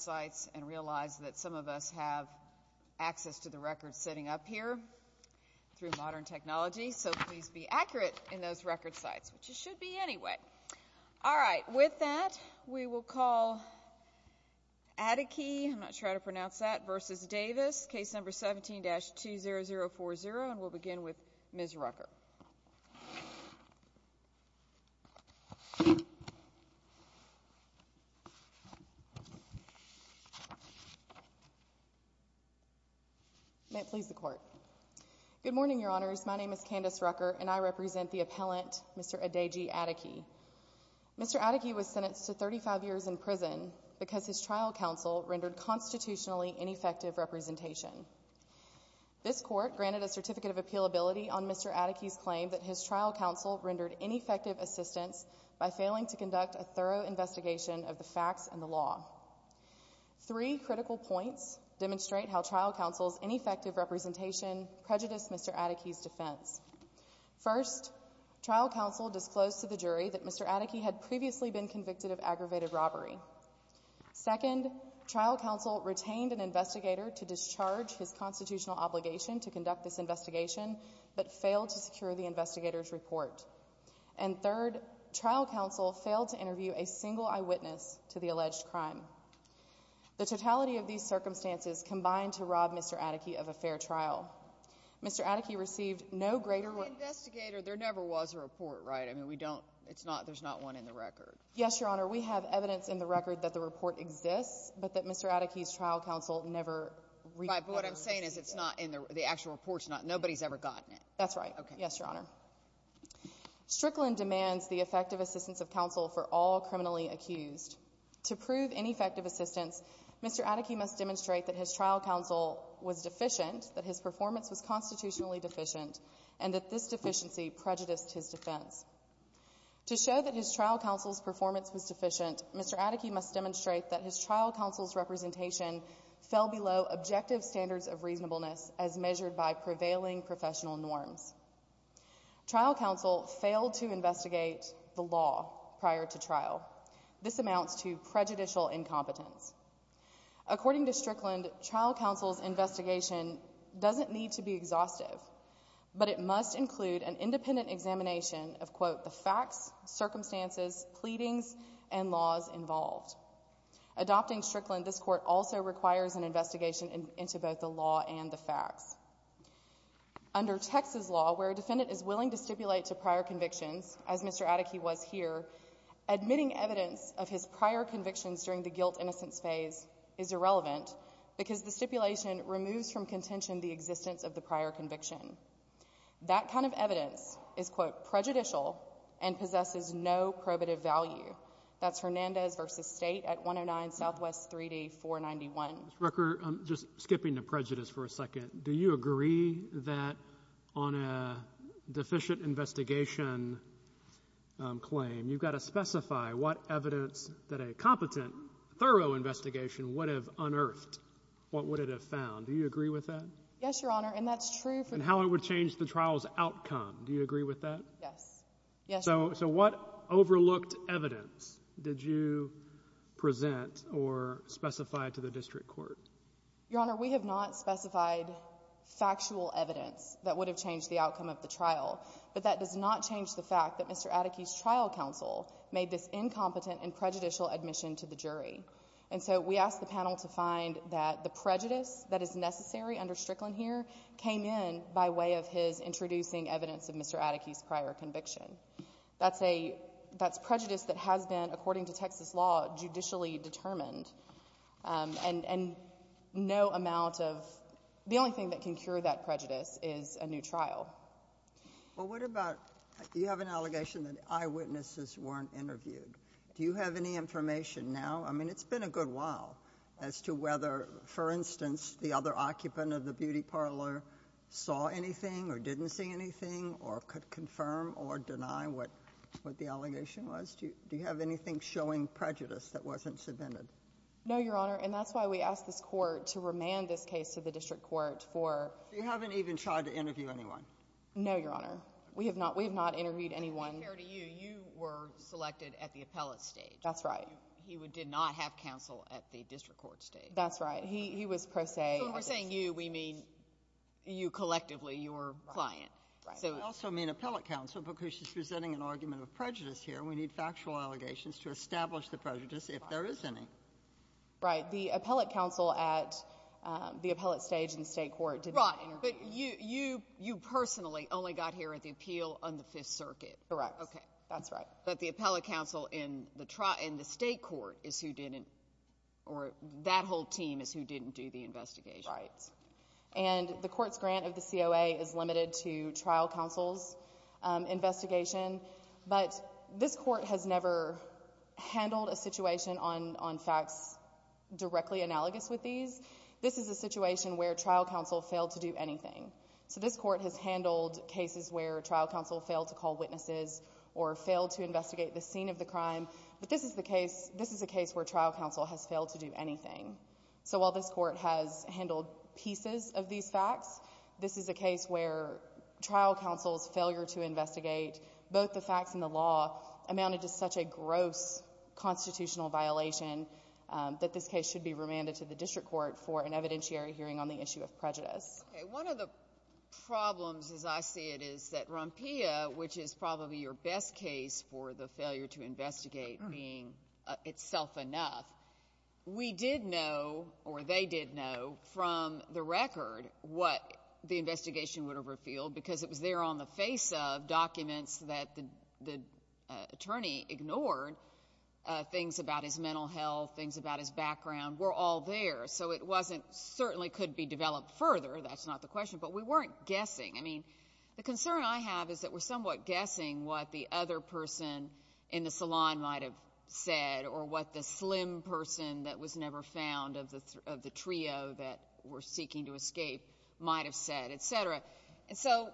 that some of us have access to the records sitting up here through modern technology. So please be accurate in those record sites, which you should be anyway. All right. With that, we will call Adekeye, I'm not sure how to pronounce that, please. May it please the Court. Good morning, Your Honors. My name is Candace Rucker and I represent the appellant, Mr. Adedji Adekeye. Mr. Adekeye was sentenced to 35 years in prison because his trial counsel rendered constitutionally ineffective representation. This court granted a certificate of appealability on Mr. Adekeye's claim that his trial counsel rendered ineffective assistance by failing to conduct a thorough investigation of the facts and the law. Three critical points demonstrate how trial counsel's ineffective representation prejudiced Mr. Adekeye's defense. First, trial counsel disclosed to the jury that Mr. Adekeye had previously been convicted of aggravated robbery. Second, trial counsel retained an investigator to discharge his constitutional obligation to conduct this investigation, but failed to interview a single eyewitness to the alleged crime. The totality of these circumstances combined to rob Mr. Adekeye of a fair trial. Mr. Adekeye received no greater... There never was a report, right? I mean, we don't, it's not, there's not one in the record. Yes, Your Honor. We have evidence in the record that the report exists, but that Mr. Adekeye's trial counsel never... But what I'm saying is it's not in the actual reports, nobody's ever gotten it. That's right. Yes, Your Honor. Strickland demands the effective assistance of counsel for all criminally accused. To prove ineffective assistance, Mr. Adekeye must demonstrate that his trial counsel was deficient, that his performance was constitutionally deficient, and that this deficiency prejudiced his defense. To show that his trial counsel's performance was deficient, Mr. Adekeye must demonstrate that his trial counsel's representation fell below objective standards of reasonableness as measured by prevailing professional norms. Trial counsel failed to investigate the law prior to trial. This amounts to prejudicial incompetence. According to Strickland, trial counsel's investigation doesn't need to be exhaustive, but it must include an independent examination of, quote, the facts, circumstances, pleadings, and laws involved. Adopting Strickland, this court also requires an investigation into both the law and the facts. Under Texas law, where a defendant is willing to stipulate to prior convictions, as Mr. Adekeye was here, admitting evidence of his prior convictions during the guilt-innocence phase is irrelevant because the stipulation removes from contention the existence of the prior conviction. That kind of evidence is, quote, prejudicial and possesses no probative value. That's Hernandez v. State at 109 Southwest 3D 491. Ms. Rooker, just skipping to prejudice for a second, do you agree that on a deficient investigation claim, you've got to specify what evidence that a competent, thorough investigation would have unearthed, what would it have found? Do you agree with that? Yes, Your Honor, and that's true. And how it would change the trial's outcome. Do you agree with that? Yes. So what overlooked evidence did you present or specify to the district court? Your Honor, we have not specified factual evidence that would have changed the outcome of the trial, but that does not change the fact that Mr. Adekeye's trial counsel made this incompetent and prejudicial admission to the jury. And so we asked the panel to find that the prejudice that is necessary under Strickland here came in by way of his introducing evidence of Mr. Adekeye's prior conviction. That's a prejudice that has been, according to Texas law, judicially determined. And no amount of the only thing that can cure that prejudice is a new trial. Well, what about you have an allegation that eyewitnesses weren't interviewed. Do you have any information now? I mean, it's been a good while as to whether, for instance, the other occupant of the beauty parlor saw anything or didn't see anything or could confirm or deny what the allegation was. Do you have anything showing prejudice that wasn't submitted? No, Your Honor. And that's why we asked this court to remand this case to the district court for — You haven't even tried to interview anyone. No, Your Honor. We have not. We have not interviewed anyone. And to be fair to you, you were selected at the appellate stage. That's right. He did not have counsel at the district court stage. That's right. He was pro se. So when we're saying you, we mean you collectively, your client. I also mean appellate counsel, because she's presenting an argument of prejudice here. We need factual allegations to establish the prejudice, if there is any. Right. The appellate counsel at the appellate stage in the state court did not interview you. Right. But you personally only got here at the appeal on the Fifth Circuit. Correct. Okay. That's right. But the appellate counsel in the state court is who didn't, or that whole team is who didn't do the investigation. Right. And the court's grant of the COA is limited to trial counsel's investigation. But this court has never handled a situation on facts directly analogous with these. This is a situation where trial counsel failed to do anything. So this court has handled cases where trial counsel failed to call to investigate the scene of the crime. But this is the case where trial counsel has failed to do anything. So while this court has handled pieces of these facts, this is a case where trial counsel's failure to investigate both the facts and the law amounted to such a gross constitutional violation that this case should be remanded to the district court for an evidentiary hearing on the issue of prejudice. Okay. One of the problems, as I see it, is that Rompilla, which is probably your best case for the failure to investigate being itself enough, we did know, or they did know, from the record what the investigation would have revealed because it was there on the face of documents that the attorney ignored. Things about his mental health, things about his background were all there. So it certainly could be developed further. That's not the question. But we are somewhat guessing what the other person in the salon might have said or what the slim person that was never found of the trio that were seeking to escape might have said, et cetera. So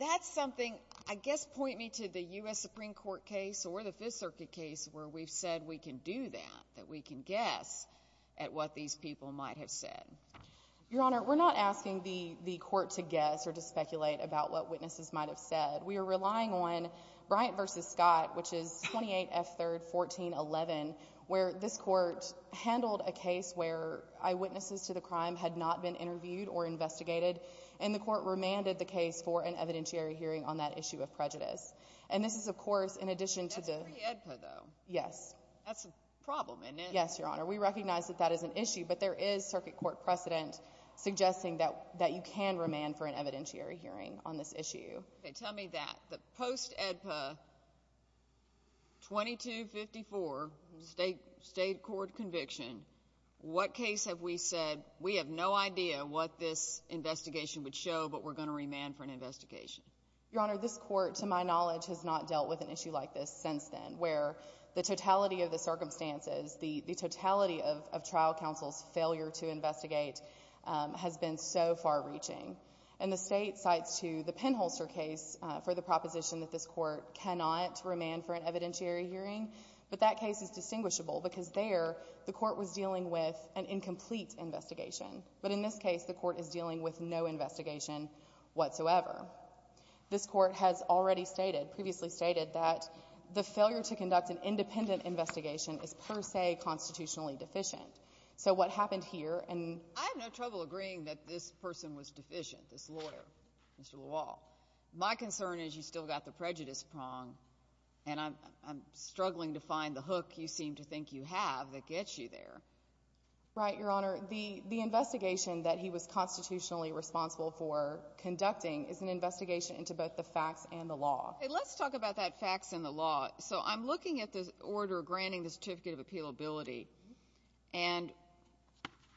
that's something, I guess, point me to the U.S. Supreme Court case or the Fifth Circuit case where we've said we can do that, that we can guess at what these people might have said. Your Honor, we're not asking the court to guess or to speculate about what they said. We are relying on Bryant v. Scott, which is 28 F. 3rd, 1411, where this court handled a case where eyewitnesses to the crime had not been interviewed or investigated, and the court remanded the case for an evidentiary hearing on that issue of prejudice. And this is, of course, in addition to the That's pre-EDPA, though. Yes. That's a problem, isn't it? Yes, Your Honor. We recognize that that is an issue, but there is circuit court precedent suggesting that you can remand for an evidentiary hearing on this issue. Okay, tell me that. The post-EDPA 2254 state court conviction, what case have we said, we have no idea what this investigation would show, but we're going to remand for an investigation? Your Honor, this court, to my knowledge, has not dealt with an issue like this since then, where the totality of the circumstances, the totality of trial counsel's failure to investigate has been so far-reaching. And the state cites to the Penholster case for the proposition that this court cannot remand for an evidentiary hearing, but that case is distinguishable because there the court was dealing with an incomplete investigation. But in this case, the court is dealing with no investigation whatsoever. This court has already stated, previously stated, that the failure to conduct an independent investigation is per se constitutionally deficient. So what happened here and I have no trouble agreeing that this person was deficient, this lawyer, Mr. Lewall. My concern is you still got the prejudice prong, and I'm struggling to find the hook you seem to think you have that gets you there. Right, Your Honor. The investigation that he was constitutionally responsible for conducting is an investigation into both the facts and the law. Okay, let's talk about that facts and the law. So I'm looking at this order granting the certificate of appealability. And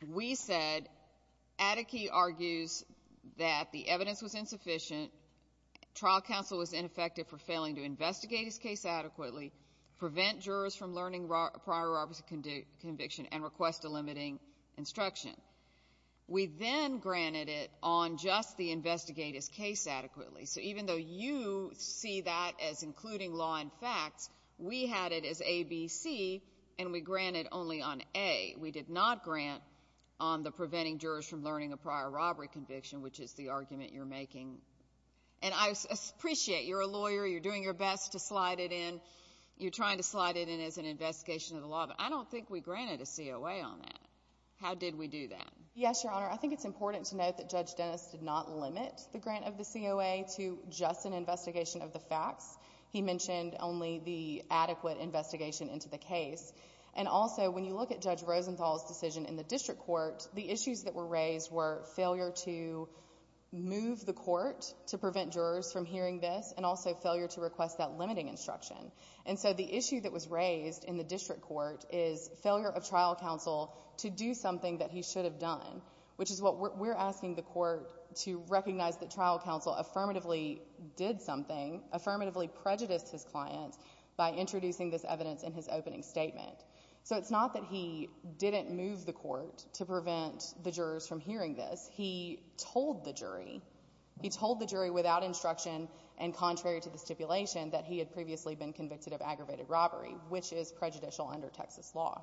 we said, Attke argues that the evidence was insufficient, trial counsel was ineffective for failing to investigate his case adequately, prevent jurors from learning prior Robertson conviction, and request a limiting instruction. We then granted it on just the investigate his case adequately. So even though you see that as including law and facts, we had it as ABC, and we granted only on A. We did not grant on the preventing jurors from learning a prior robbery conviction, which is the argument you're making. And I appreciate you're a lawyer, you're doing your best to slide it in, you're trying to slide it in as an investigation of the law, but I don't think we granted a COA on that. How did we do that? Yes, Your Honor. I think it's important to note that Judge Dennis did not limit the grant of the COA to just an investigation of the facts. He mentioned only the adequate investigation into the case. And also, when you look at Judge Rosenthal's decision in the district court, the issues that were raised were failure to move the court to prevent jurors from hearing this, and also failure to request that limiting instruction. And so the issue that was raised in the district court is failure of trial counsel to do something that he should have done, which is what we're asking the court to recognize that trial counsel affirmatively did something, affirmatively prejudiced his client by introducing this evidence in his opening statement. So it's not that he didn't move the court to prevent the jurors from hearing this. He told the jury. He told the jury without instruction and contrary to the stipulation that he had previously been convicted of aggravated robbery, which is prejudicial under Texas law.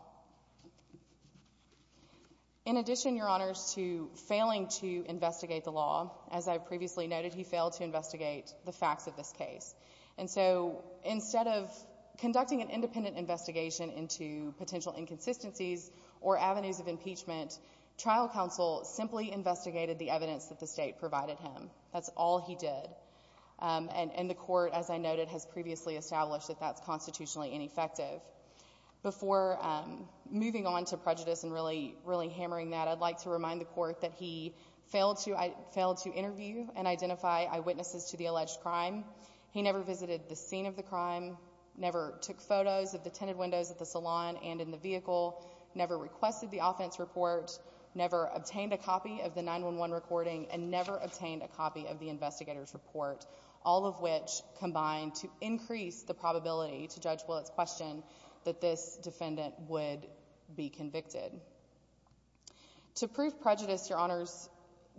In addition, Your Honors, to failing to investigate the law, as I previously noted, he failed to investigate the facts of this case. And so instead of conducting an independent investigation into potential inconsistencies or avenues of impeachment, trial counsel simply investigated the evidence that the state provided him. That's all he did. And the court, as I noted, has previously established that that's constitutionally ineffective. Before moving on to prejudice and really hammering that, I'd like to remind the witnesses to the alleged crime. He never visited the scene of the crime, never took photos of the tinted windows at the salon and in the vehicle, never requested the offense report, never obtained a copy of the 911 recording, and never obtained a copy of the investigator's report, all of which combined to increase the probability, to Judge Willett's question, that this defendant would be convicted. To prove prejudice, Your Honors,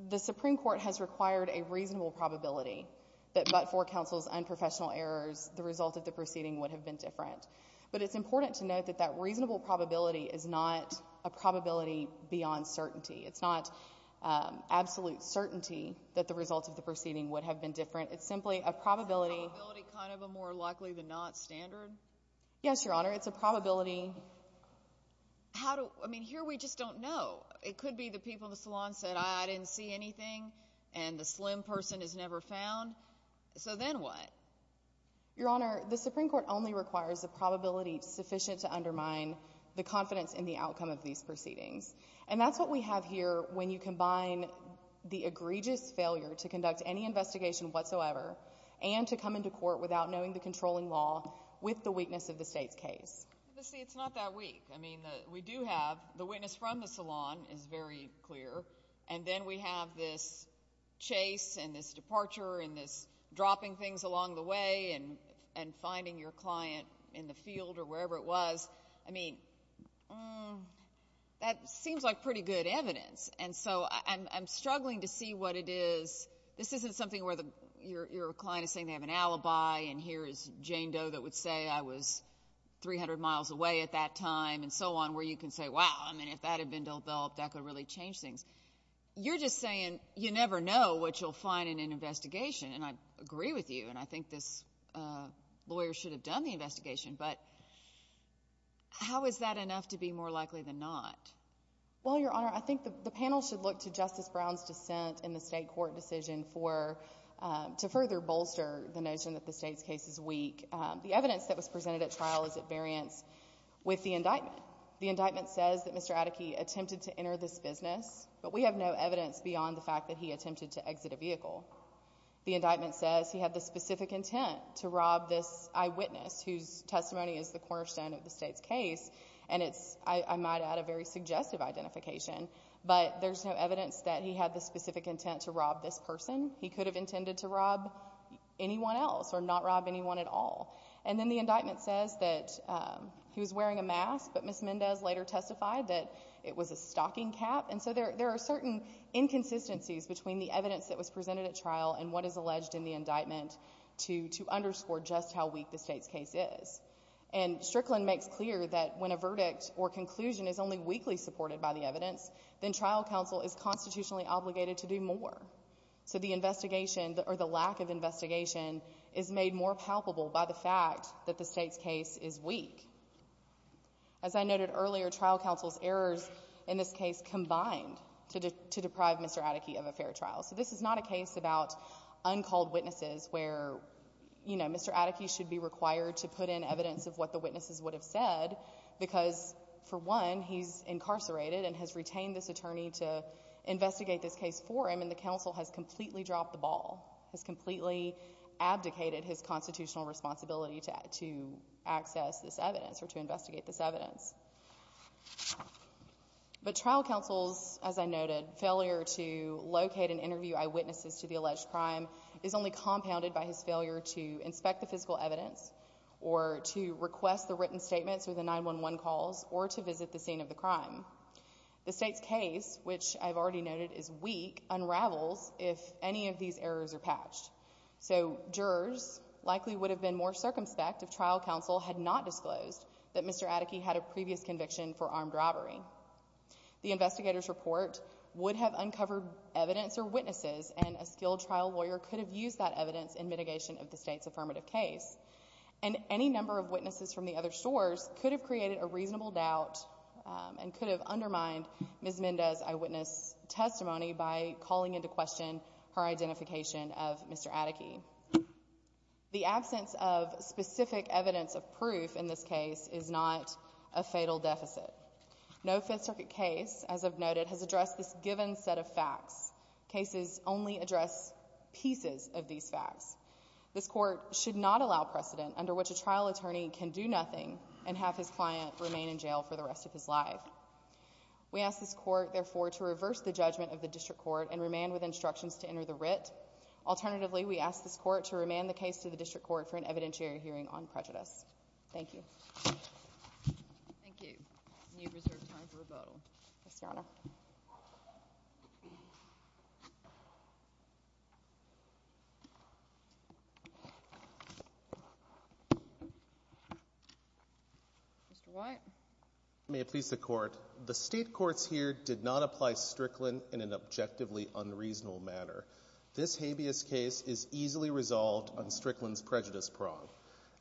the Supreme Court has required a reasonable probability that but for counsel's unprofessional errors, the result of the proceeding would have been different. But it's important to note that that reasonable probability is not a probability beyond certainty. It's not absolute certainty that the result of the proceeding would have been different. It's simply a probability. A probability kind of a more likely-than-not standard? Yes, Your Honor. It's a probability. I mean, here we just don't know. It could be the people in the salon said, I didn't see anything and the slim person is never found. So then what? Your Honor, the Supreme Court only requires a probability sufficient to undermine the confidence in the outcome of these proceedings. And that's what we have here when you combine the egregious failure to conduct any investigation whatsoever and to come into court without knowing the controlling law with the weakness of the state's case. But see, it's not that weak. I mean, we do have the witness from the salon is very clear. And then we have this chase and this departure and this dropping things along the way and finding your client in the field or wherever it was. I mean, that seems like pretty good evidence. And so I'm struggling to see what it is. This isn't something where your client is saying they have an and so on, where you can say, wow, I mean, if that had been developed, that could really change things. You're just saying you never know what you'll find in an investigation. And I agree with you. And I think this lawyer should have done the investigation. But how is that enough to be more likely than not? Well, Your Honor, I think the panel should look to Justice Brown's dissent in the state court decision to further bolster the notion that the state's case is weak. The evidence that was presented at trial is at variance with the indictment. The indictment says that Mr. Adeke attempted to enter this business. But we have no evidence beyond the fact that he attempted to exit a vehicle. The indictment says he had the specific intent to rob this eyewitness, whose testimony is the cornerstone of the state's case. And it's, I might add, a very suggestive identification. But there's no evidence that he had the specific intent to rob this person. He could have intended to rob anyone else or not rob anyone at all. And then the indictment says that he was wearing a mask, but Ms. Mendez later testified that it was a stocking cap. And so there are certain inconsistencies between the evidence that was presented at trial and what is alleged in the indictment to underscore just how weak the state's case is. And Strickland makes clear that when a verdict or conclusion is only weakly supported by the evidence, then trial counsel is constitutionally obligated to do more. So the investigation or the lack of investigation is made more palpable by the fact that the state's case is weak. As I noted earlier, trial counsel's errors in this case combined to deprive Mr. Adeke of a fair trial. So this is not a case about uncalled witnesses where, you know, Mr. Adeke should be required to put in evidence of what the witnesses would have said because, for one, he's incarcerated and has retained this attorney to investigate this case for him, and the counsel has completely dropped the ball, has completely abdicated his constitutional responsibility to access this evidence or to investigate this evidence. But trial counsel's, as I noted, failure to locate and interview eyewitnesses to the alleged crime is only compounded by his failure to inspect the physical evidence or to request the written statements or the 911 calls or to visit the scene of the crime. The state's case, which I've already noted is weak, unravels if any of these errors are patched. So jurors likely would have been more circumspect if trial counsel had not disclosed that Mr. Adeke had a previous conviction for armed robbery. The investigator's report would have uncovered evidence or witnesses, and a skilled trial lawyer could have used that evidence in mitigation of the state's affirmative case. And any number of witnesses from the other stores could have created a reasonable doubt and could have undermined Ms. Mendez's eyewitness testimony by calling into question her identification of Mr. Adeke. The absence of specific evidence of proof in this case is not a fatal deficit. No Fifth Circuit case, as I've noted, has addressed this given set of facts. Cases only address pieces of these facts. This Court should not allow precedent under which a trial attorney can do nothing and have his client remain in jail for the rest of his life. We ask this Court, therefore, to reverse the judgment of the district court and remand with instructions to enter the writ. Alternatively, we ask this Court to remand the case to the district court for an evidentiary hearing on prejudice. Thank you. Thank you. And you have reserved time for rebuttal. Ms. Yonah. Mr. White. May it please the Court, the State courts here did not apply Strickland in an objectively unreasonable manner. This habeas case is easily resolved on Strickland's prejudice prong.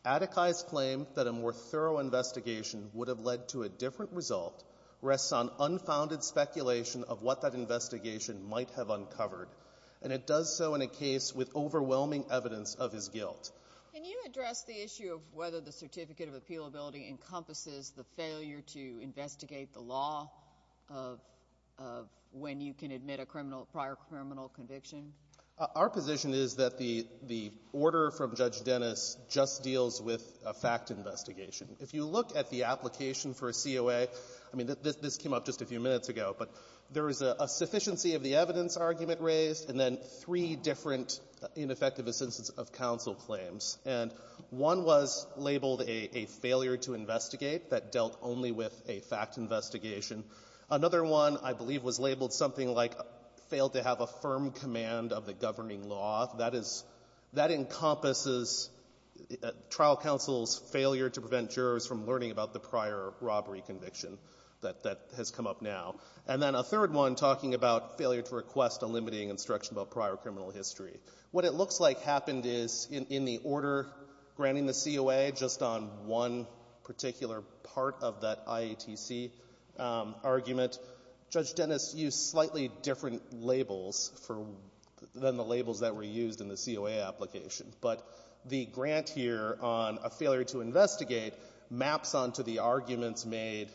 Adeke's claim that a more thorough investigation would have led to a different result rests on unfounded speculation of what that investigation might have uncovered, and it does so in a case with overwhelming evidence of his guilt. Can you address the issue of whether the certificate of appealability encompasses the failure to investigate the law of when you can admit a criminal, prior criminal conviction? Our position is that the order from Judge Dennis just deals with a fact investigation. If you look at the application for a COA, I mean, this came up just a few minutes ago, but there is a sufficiency of the evidence argument raised and then three different ineffectiveness of counsel claims. And one was labeled a failure to investigate that dealt only with a fact investigation. Another one, I believe, was labeled something like failed to have a firm command of the governing law. That is that encompasses trial counsel's failure to prevent jurors from learning about the prior robbery conviction that has come up now. And then a third one talking about failure to request a limiting instruction about prior criminal history. What it looks like happened is in the order granting the COA just on one particular part of that IATC argument, Judge Dennis used slightly different labels for the labels that were used in the COA application. But the grant here on a failure to investigate maps onto the arguments made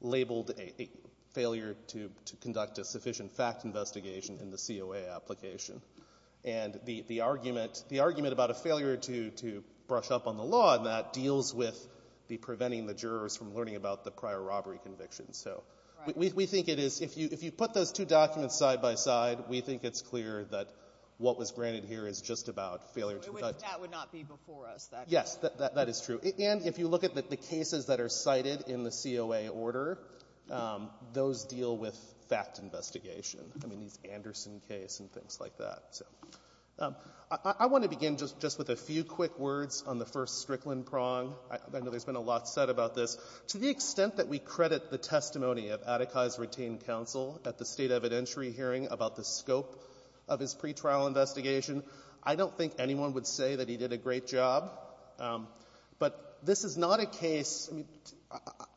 labeled a failure to conduct a sufficient fact investigation in the COA application. And the argument, the argument about a failure to brush up on the fact investigation on the law on that deals with preventing the jurors from learning about the prior robbery conviction. So we think it is, if you put those two documents side by side, we think it's clear that what was granted here is just about failure to conduct. Sotomayor. That would not be before us. Yes. That is true. And if you look at the cases that are cited in the COA order, those deal with fact investigation. I mean, these Anderson case and things like that. So I want to begin just with a few quick words on the first Strickland prong. I know there's been a lot said about this. To the extent that we credit the testimony of Adekai's retained counsel at the State evidentiary hearing about the scope of his pretrial investigation, I don't think anyone would say that he did a great job. But this is not a case, I mean,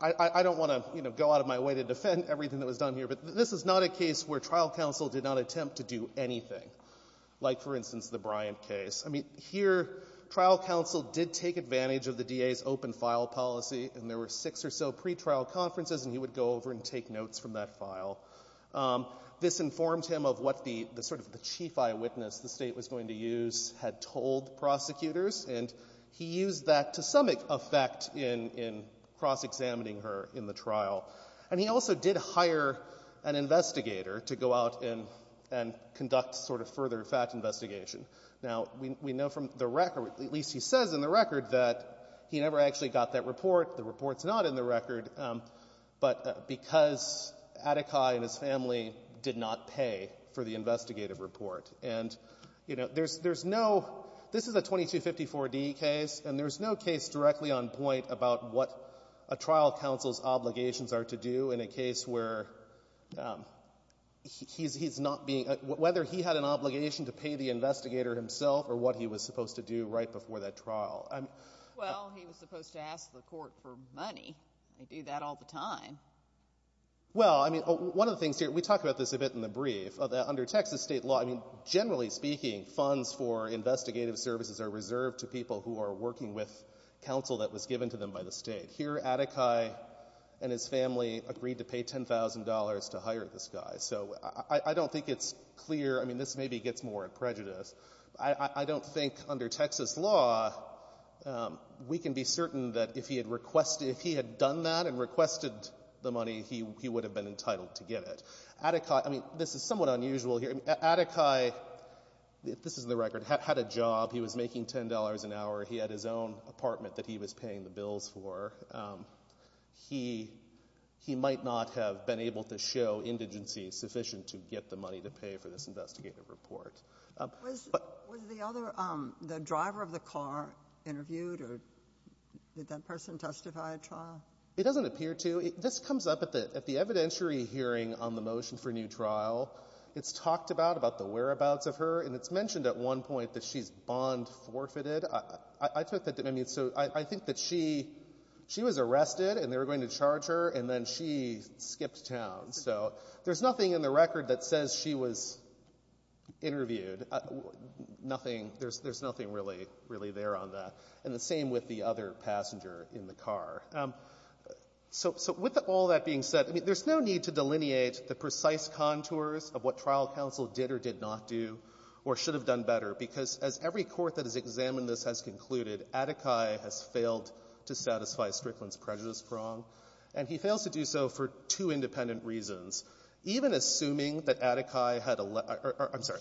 I don't want to, you know, go out of my way to defend everything that was done here, but this is not a case where trial counsel did not attempt to do anything, like, for instance, the Bryant case. I mean, here, trial counsel did take advantage of the DA's open-file policy, and there were six or so pretrial conferences, and he would go over and take notes from that file. This informed him of what the sort of the chief eyewitness the State was going to use had told prosecutors, and he used that to some effect in cross-examining her in the trial. And he also did hire an investigator to go out and conduct sort of further fact investigation. Now, we know from the record, at least he says in the record, that he never actually got that report. The report's not in the record, but because Adekai and his family did not pay for the investigative report. And, you know, there's no — this is a 2254D case, and there's no case directly on point about what a trial counsel's obligations are to do in a case where he's not being — whether he had an obligation to pay the investigator himself or what he was supposed to do right before that trial. I mean — Well, he was supposed to ask the court for money. They do that all the time. Well, I mean, one of the things here — we talk about this a bit in the brief. Under Texas state law, I mean, generally speaking, funds for investigative services are reserved to people who are working with counsel that was given to them by the state. Here, Adekai and his family agreed to pay $10,000 to hire this guy. So I don't think it's clear — I mean, this maybe gets more at prejudice. I don't think under Texas law, we can be certain that if he had requested — if he had done that and here — Adekai, if this is the record, had a job. He was making $10 an hour. He had his own apartment that he was paying the bills for. He might not have been able to show indigency sufficient to get the money to pay for this investigative report. Was the other — the driver of the car interviewed, or did that person testify at trial? It doesn't appear to. This comes up at the evidentiary hearing on the motion for a new trial. It's talked about, about the whereabouts of her, and it's mentioned at one point that she's bond forfeited. I took that — I mean, so I think that she — she was arrested, and they were going to charge her, and then she skipped town. So there's nothing in the record that says she was interviewed. Nothing. There's nothing really there on that. And the same with the other passenger in the car. So — so with all that being said, I mean, there's no need to delineate the precise contours of what trial counsel did or did not do or should have done better, because as every court that has examined this has concluded, Adekai has failed to satisfy Strickland's prejudice prong, and he fails to do so for two independent reasons. Even assuming that Adekai had a — I'm sorry.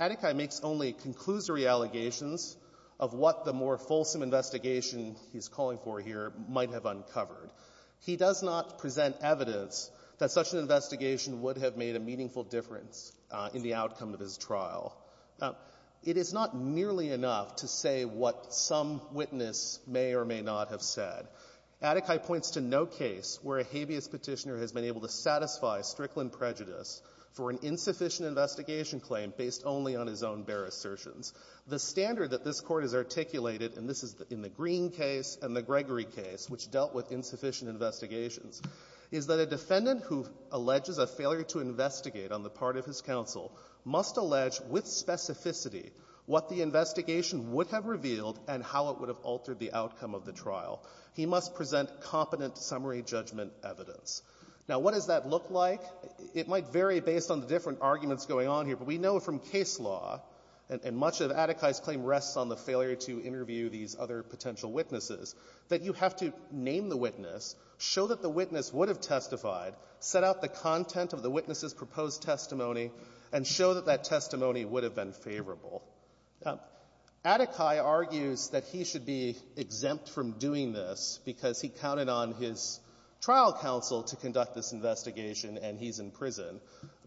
Adekai makes only conclusory allegations of what the more fulsome investigation he's calling for here might have uncovered. He does not present evidence that such an investigation would have made a meaningful difference in the outcome of his trial. It is not nearly enough to say what some witness may or may not have said. Adekai points to no case where a habeas Petitioner has been able to satisfy Strickland prejudice for an insufficient investigation claim based only on his own bare assertions. The standard that this Court has articulated — and this is in the Green case and the Gregory case, which dealt with insufficient investigations — is that a defendant who alleges a failure to investigate on the part of his counsel must allege with specificity what the investigation would have revealed and how it would have altered the outcome of the trial. He must present competent summary judgment evidence. Now, what does that look like? It might vary based on the different arguments going on here, but we know from case law, and much of Adekai's claim rests on the failure to interview these other potential witnesses, that you have to name the witness, show that the witness would have testified, set out the content of the witness's proposed testimony, and show that that testimony would have been favorable. Adekai argues that he should be exempt from doing this because he counted on his trial counsel to conduct this investigation and he's in prison.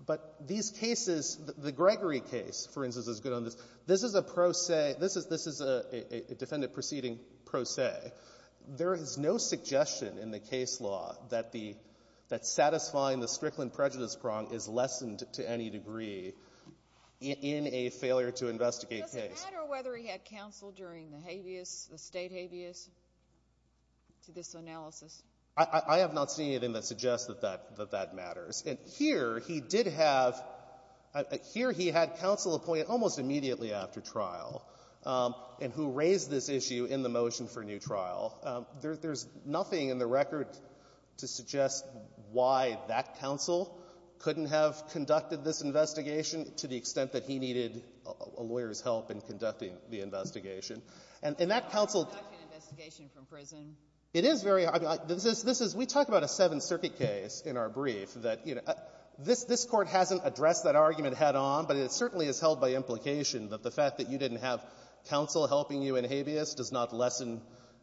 But these cases, the Gregory case, for instance, is good on this. This is a pro se — this is a defendant proceeding pro se. There is no suggestion in the case law that the — that satisfying the Strickland prejudice prong is lessened to any degree in a failure to investigate case. Does it matter whether he had counsel during the habeas, the State habeas, to this analysis? I have not seen anything that suggests that that — that that matters. And here he did have — here he had counsel appointed almost immediately after trial and who raised this issue in the motion for new trial. There's nothing in the record to suggest why that counsel couldn't have conducted this investigation to the extent that he needed a lawyer's help in conducting the investigation. And that counsel — It is very — I mean, this is — we talk about a Seventh Circuit case in our brief that, you know, this Court hasn't addressed that argument head-on, but it certainly is held by implication that the fact that you didn't have counsel helping you in habeas does not lessen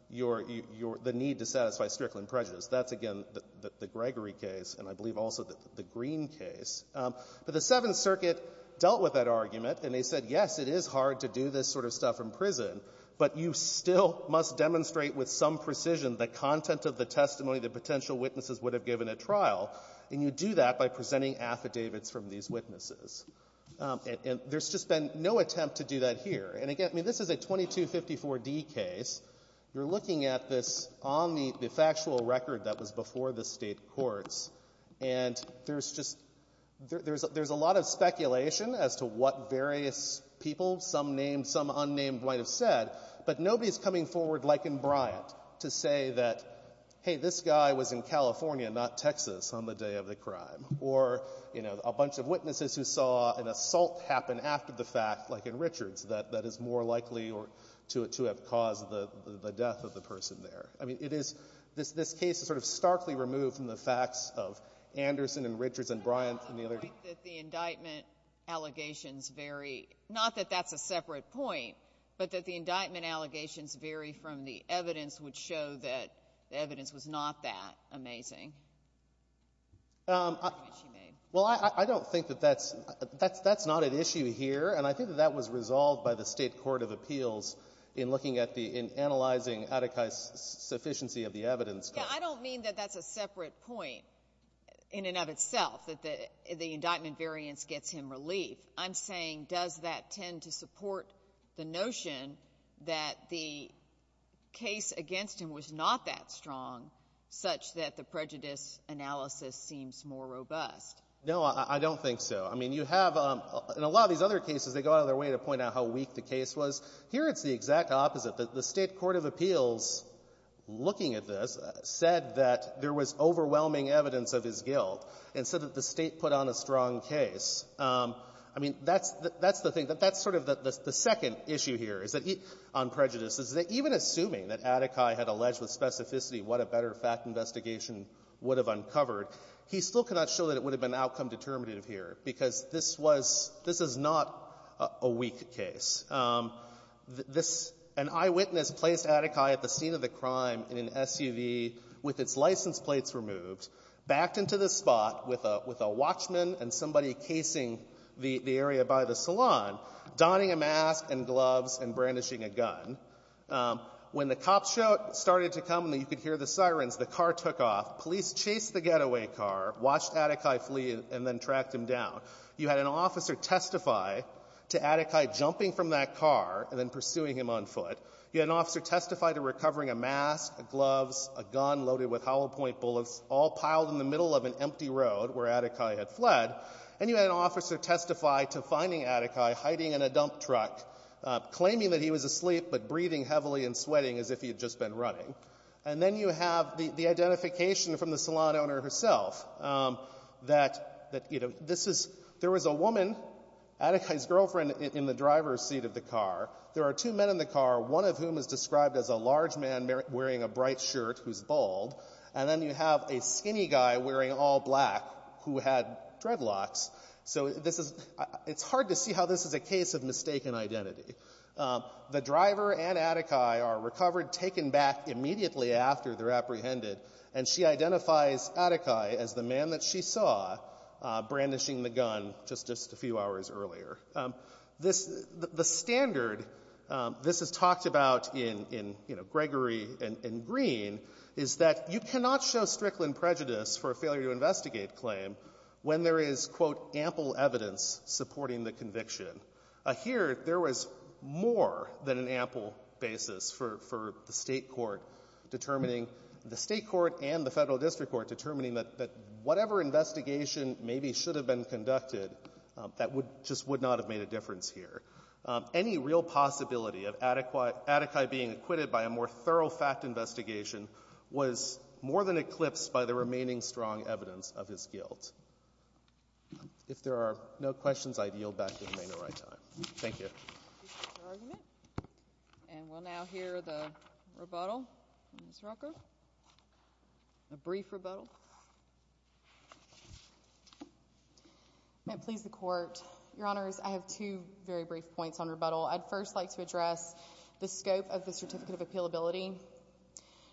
your — the need to satisfy Strickland prejudice. That's, again, the — the Gregory case, and I believe also the Green case. But the Seventh Circuit dealt with that argument, and they said, yes, it is hard to do this sort of stuff in prison, but you still must demonstrate with some precision the content of the testimony that potential witnesses would have given at trial, and you do that by presenting affidavits from these witnesses. And there's just been no attempt to do that here. And, again, I mean, this is a 2254d case. You're looking at this on the factual record that was before the State courts, and there's just — there's a lot of speculation as to what various people, some named, some unnamed, might have said, but nobody is coming forward like in Bryant to say that, hey, this guy was in California, not Texas, on the day of the crime, or, you know, a bunch of witnesses who saw an assault happen after the fact, like in Richards, that that is more likely to have caused the death of the person there. I mean, it is — this case is sort of starkly removed from the facts of Anderson and Richards and Bryant and the other — Sotomayor, did you agree that the indictment allegations vary — not that that's a separate point, but that the indictment allegations vary from the evidence which showed that the evidence was not that amazing? Well, I don't think that that's — that's not an issue here, and I think that that was resolved by the State court of appeals in looking at the — in analyzing Adekai's sufficiency of the evidence. Yeah, I don't mean that that's a separate point in and of itself, that the indictment variance gets him relief. I'm saying does that tend to support the notion that the prejudice analysis seems more robust? No, I don't think so. I mean, you have — in a lot of these other cases, they go out of their way to point out how weak the case was. Here, it's the exact opposite. The State court of appeals, looking at this, said that there was overwhelming evidence of his guilt and said that the State put on a strong case. I mean, that's — that's the thing. That's sort of the second issue here, is that — on prejudice, is that even assuming that Adekai had alleged with specificity what a better fact investigation would have uncovered, he still could not show that it would have been outcome determinative here, because this was — this is not a weak case. This — an eyewitness placed Adekai at the scene of the crime in an SUV with its license plates removed, backed into the spot with a — with a watchman and somebody casing the — the area by the salon, donning a mask and gloves and brandishing a gun. When the cops showed — started to come and you could hear the sirens, the car took off. Police chased the getaway car, watched Adekai flee, and then tracked him down. You had an officer testify to Adekai jumping from that car and then pursuing him on foot. You had an officer testify to recovering a mask, gloves, a gun loaded with gunpowder. You had an officer testify to finding Adekai hiding in a dump truck, claiming that he was asleep but breathing heavily and sweating as if he had just been running. And then you have the — the identification from the salon owner herself that — that, you know, this is — there was a woman, Adekai's girlfriend, in the driver's seat of the car. There are two men in the car, one of whom is described as a large man wearing a bright shirt who's bald, and then you have a skinny guy wearing all black who had dreadlocks. So this is — it's hard to see how this is a case of mistaken identity. The driver and Adekai are recovered, taken back immediately after they're apprehended, and she identifies Adekai as the man that she saw brandishing the gun just — just a few hours earlier. This — the standard this is talked about in — in, you know, Gregory and Green is that you cannot show Strickland prejudice for a failure-to-investigate claim when there is, quote, ample evidence supporting the conviction. Here, there was more than an ample basis for — for the State court determining — the State court and the Federal district court determining that whatever investigation maybe should have been conducted, that would — just would not have made a difference here. Any real possibility of Adekai being acquitted by a more thorough fact investigation was more than eclipsed by the remaining strong evidence of his guilt. If there are no questions, I yield back to the remainder of my time. Thank you. And we'll now hear the rebuttal on this record. A brief rebuttal. May it please the Court. Your Honors, I have two very brief points on rebuttal. I'd first like to address the scope of the Certificate of Appealability.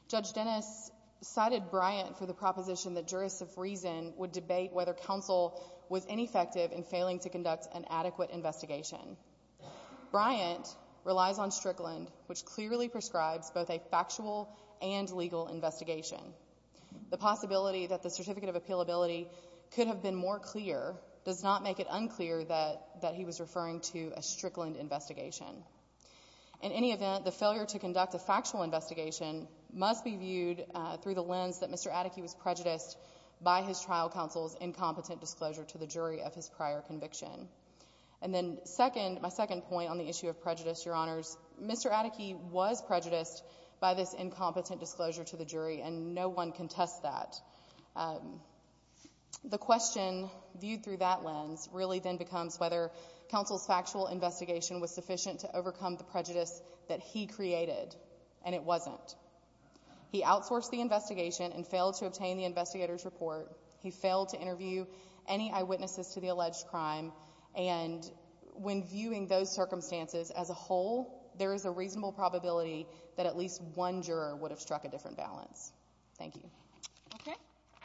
Judge Dennis cited Bryant for the proposition that jurists of reason would debate whether counsel was ineffective in failing to conduct an adequate investigation. Bryant relies on Strickland, which clearly prescribes both a factual and legal investigation. The possibility that the Certificate of Appealability could have been more clear does not make it unclear that — that he was referring to a Strickland investigation. In any event, the failure to conduct a factual investigation must be viewed through the lens that Mr. Atticke was prejudiced by his trial counsel's incompetent disclosure to the jury of his prior conviction. And then second — my second point on the issue of prejudice, Your Honors, Mr. Atticke was prejudiced by this incompetent disclosure to the jury, and no one can test that. The question viewed through that lens really then becomes whether counsel's factual investigation was correct or not. And the answer to that is no, Your Honor. He failed to enforce the investigation and failed to obtain the investigator's report. He failed to interview any eyewitnesses to the alleged crime. And when viewing those circumstances as a whole, there is a reasonable probability that at least one juror would have struck a different balance. Thank you. Okay.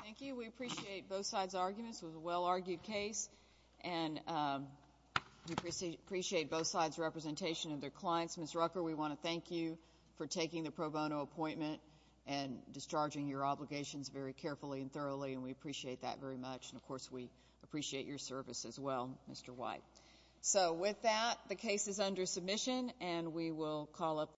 Thank you. We appreciate both sides' arguments. It was a well-argued case. And we appreciate both sides' representation of their clients. Ms. Rucker, we want to thank you for taking the pro bono appointment and discharging your obligations very carefully and thoroughly, and we appreciate that very much. And of course, we appreciate your service as well, Mr. White. So with that, the case is under submission, and we will call up the hearing.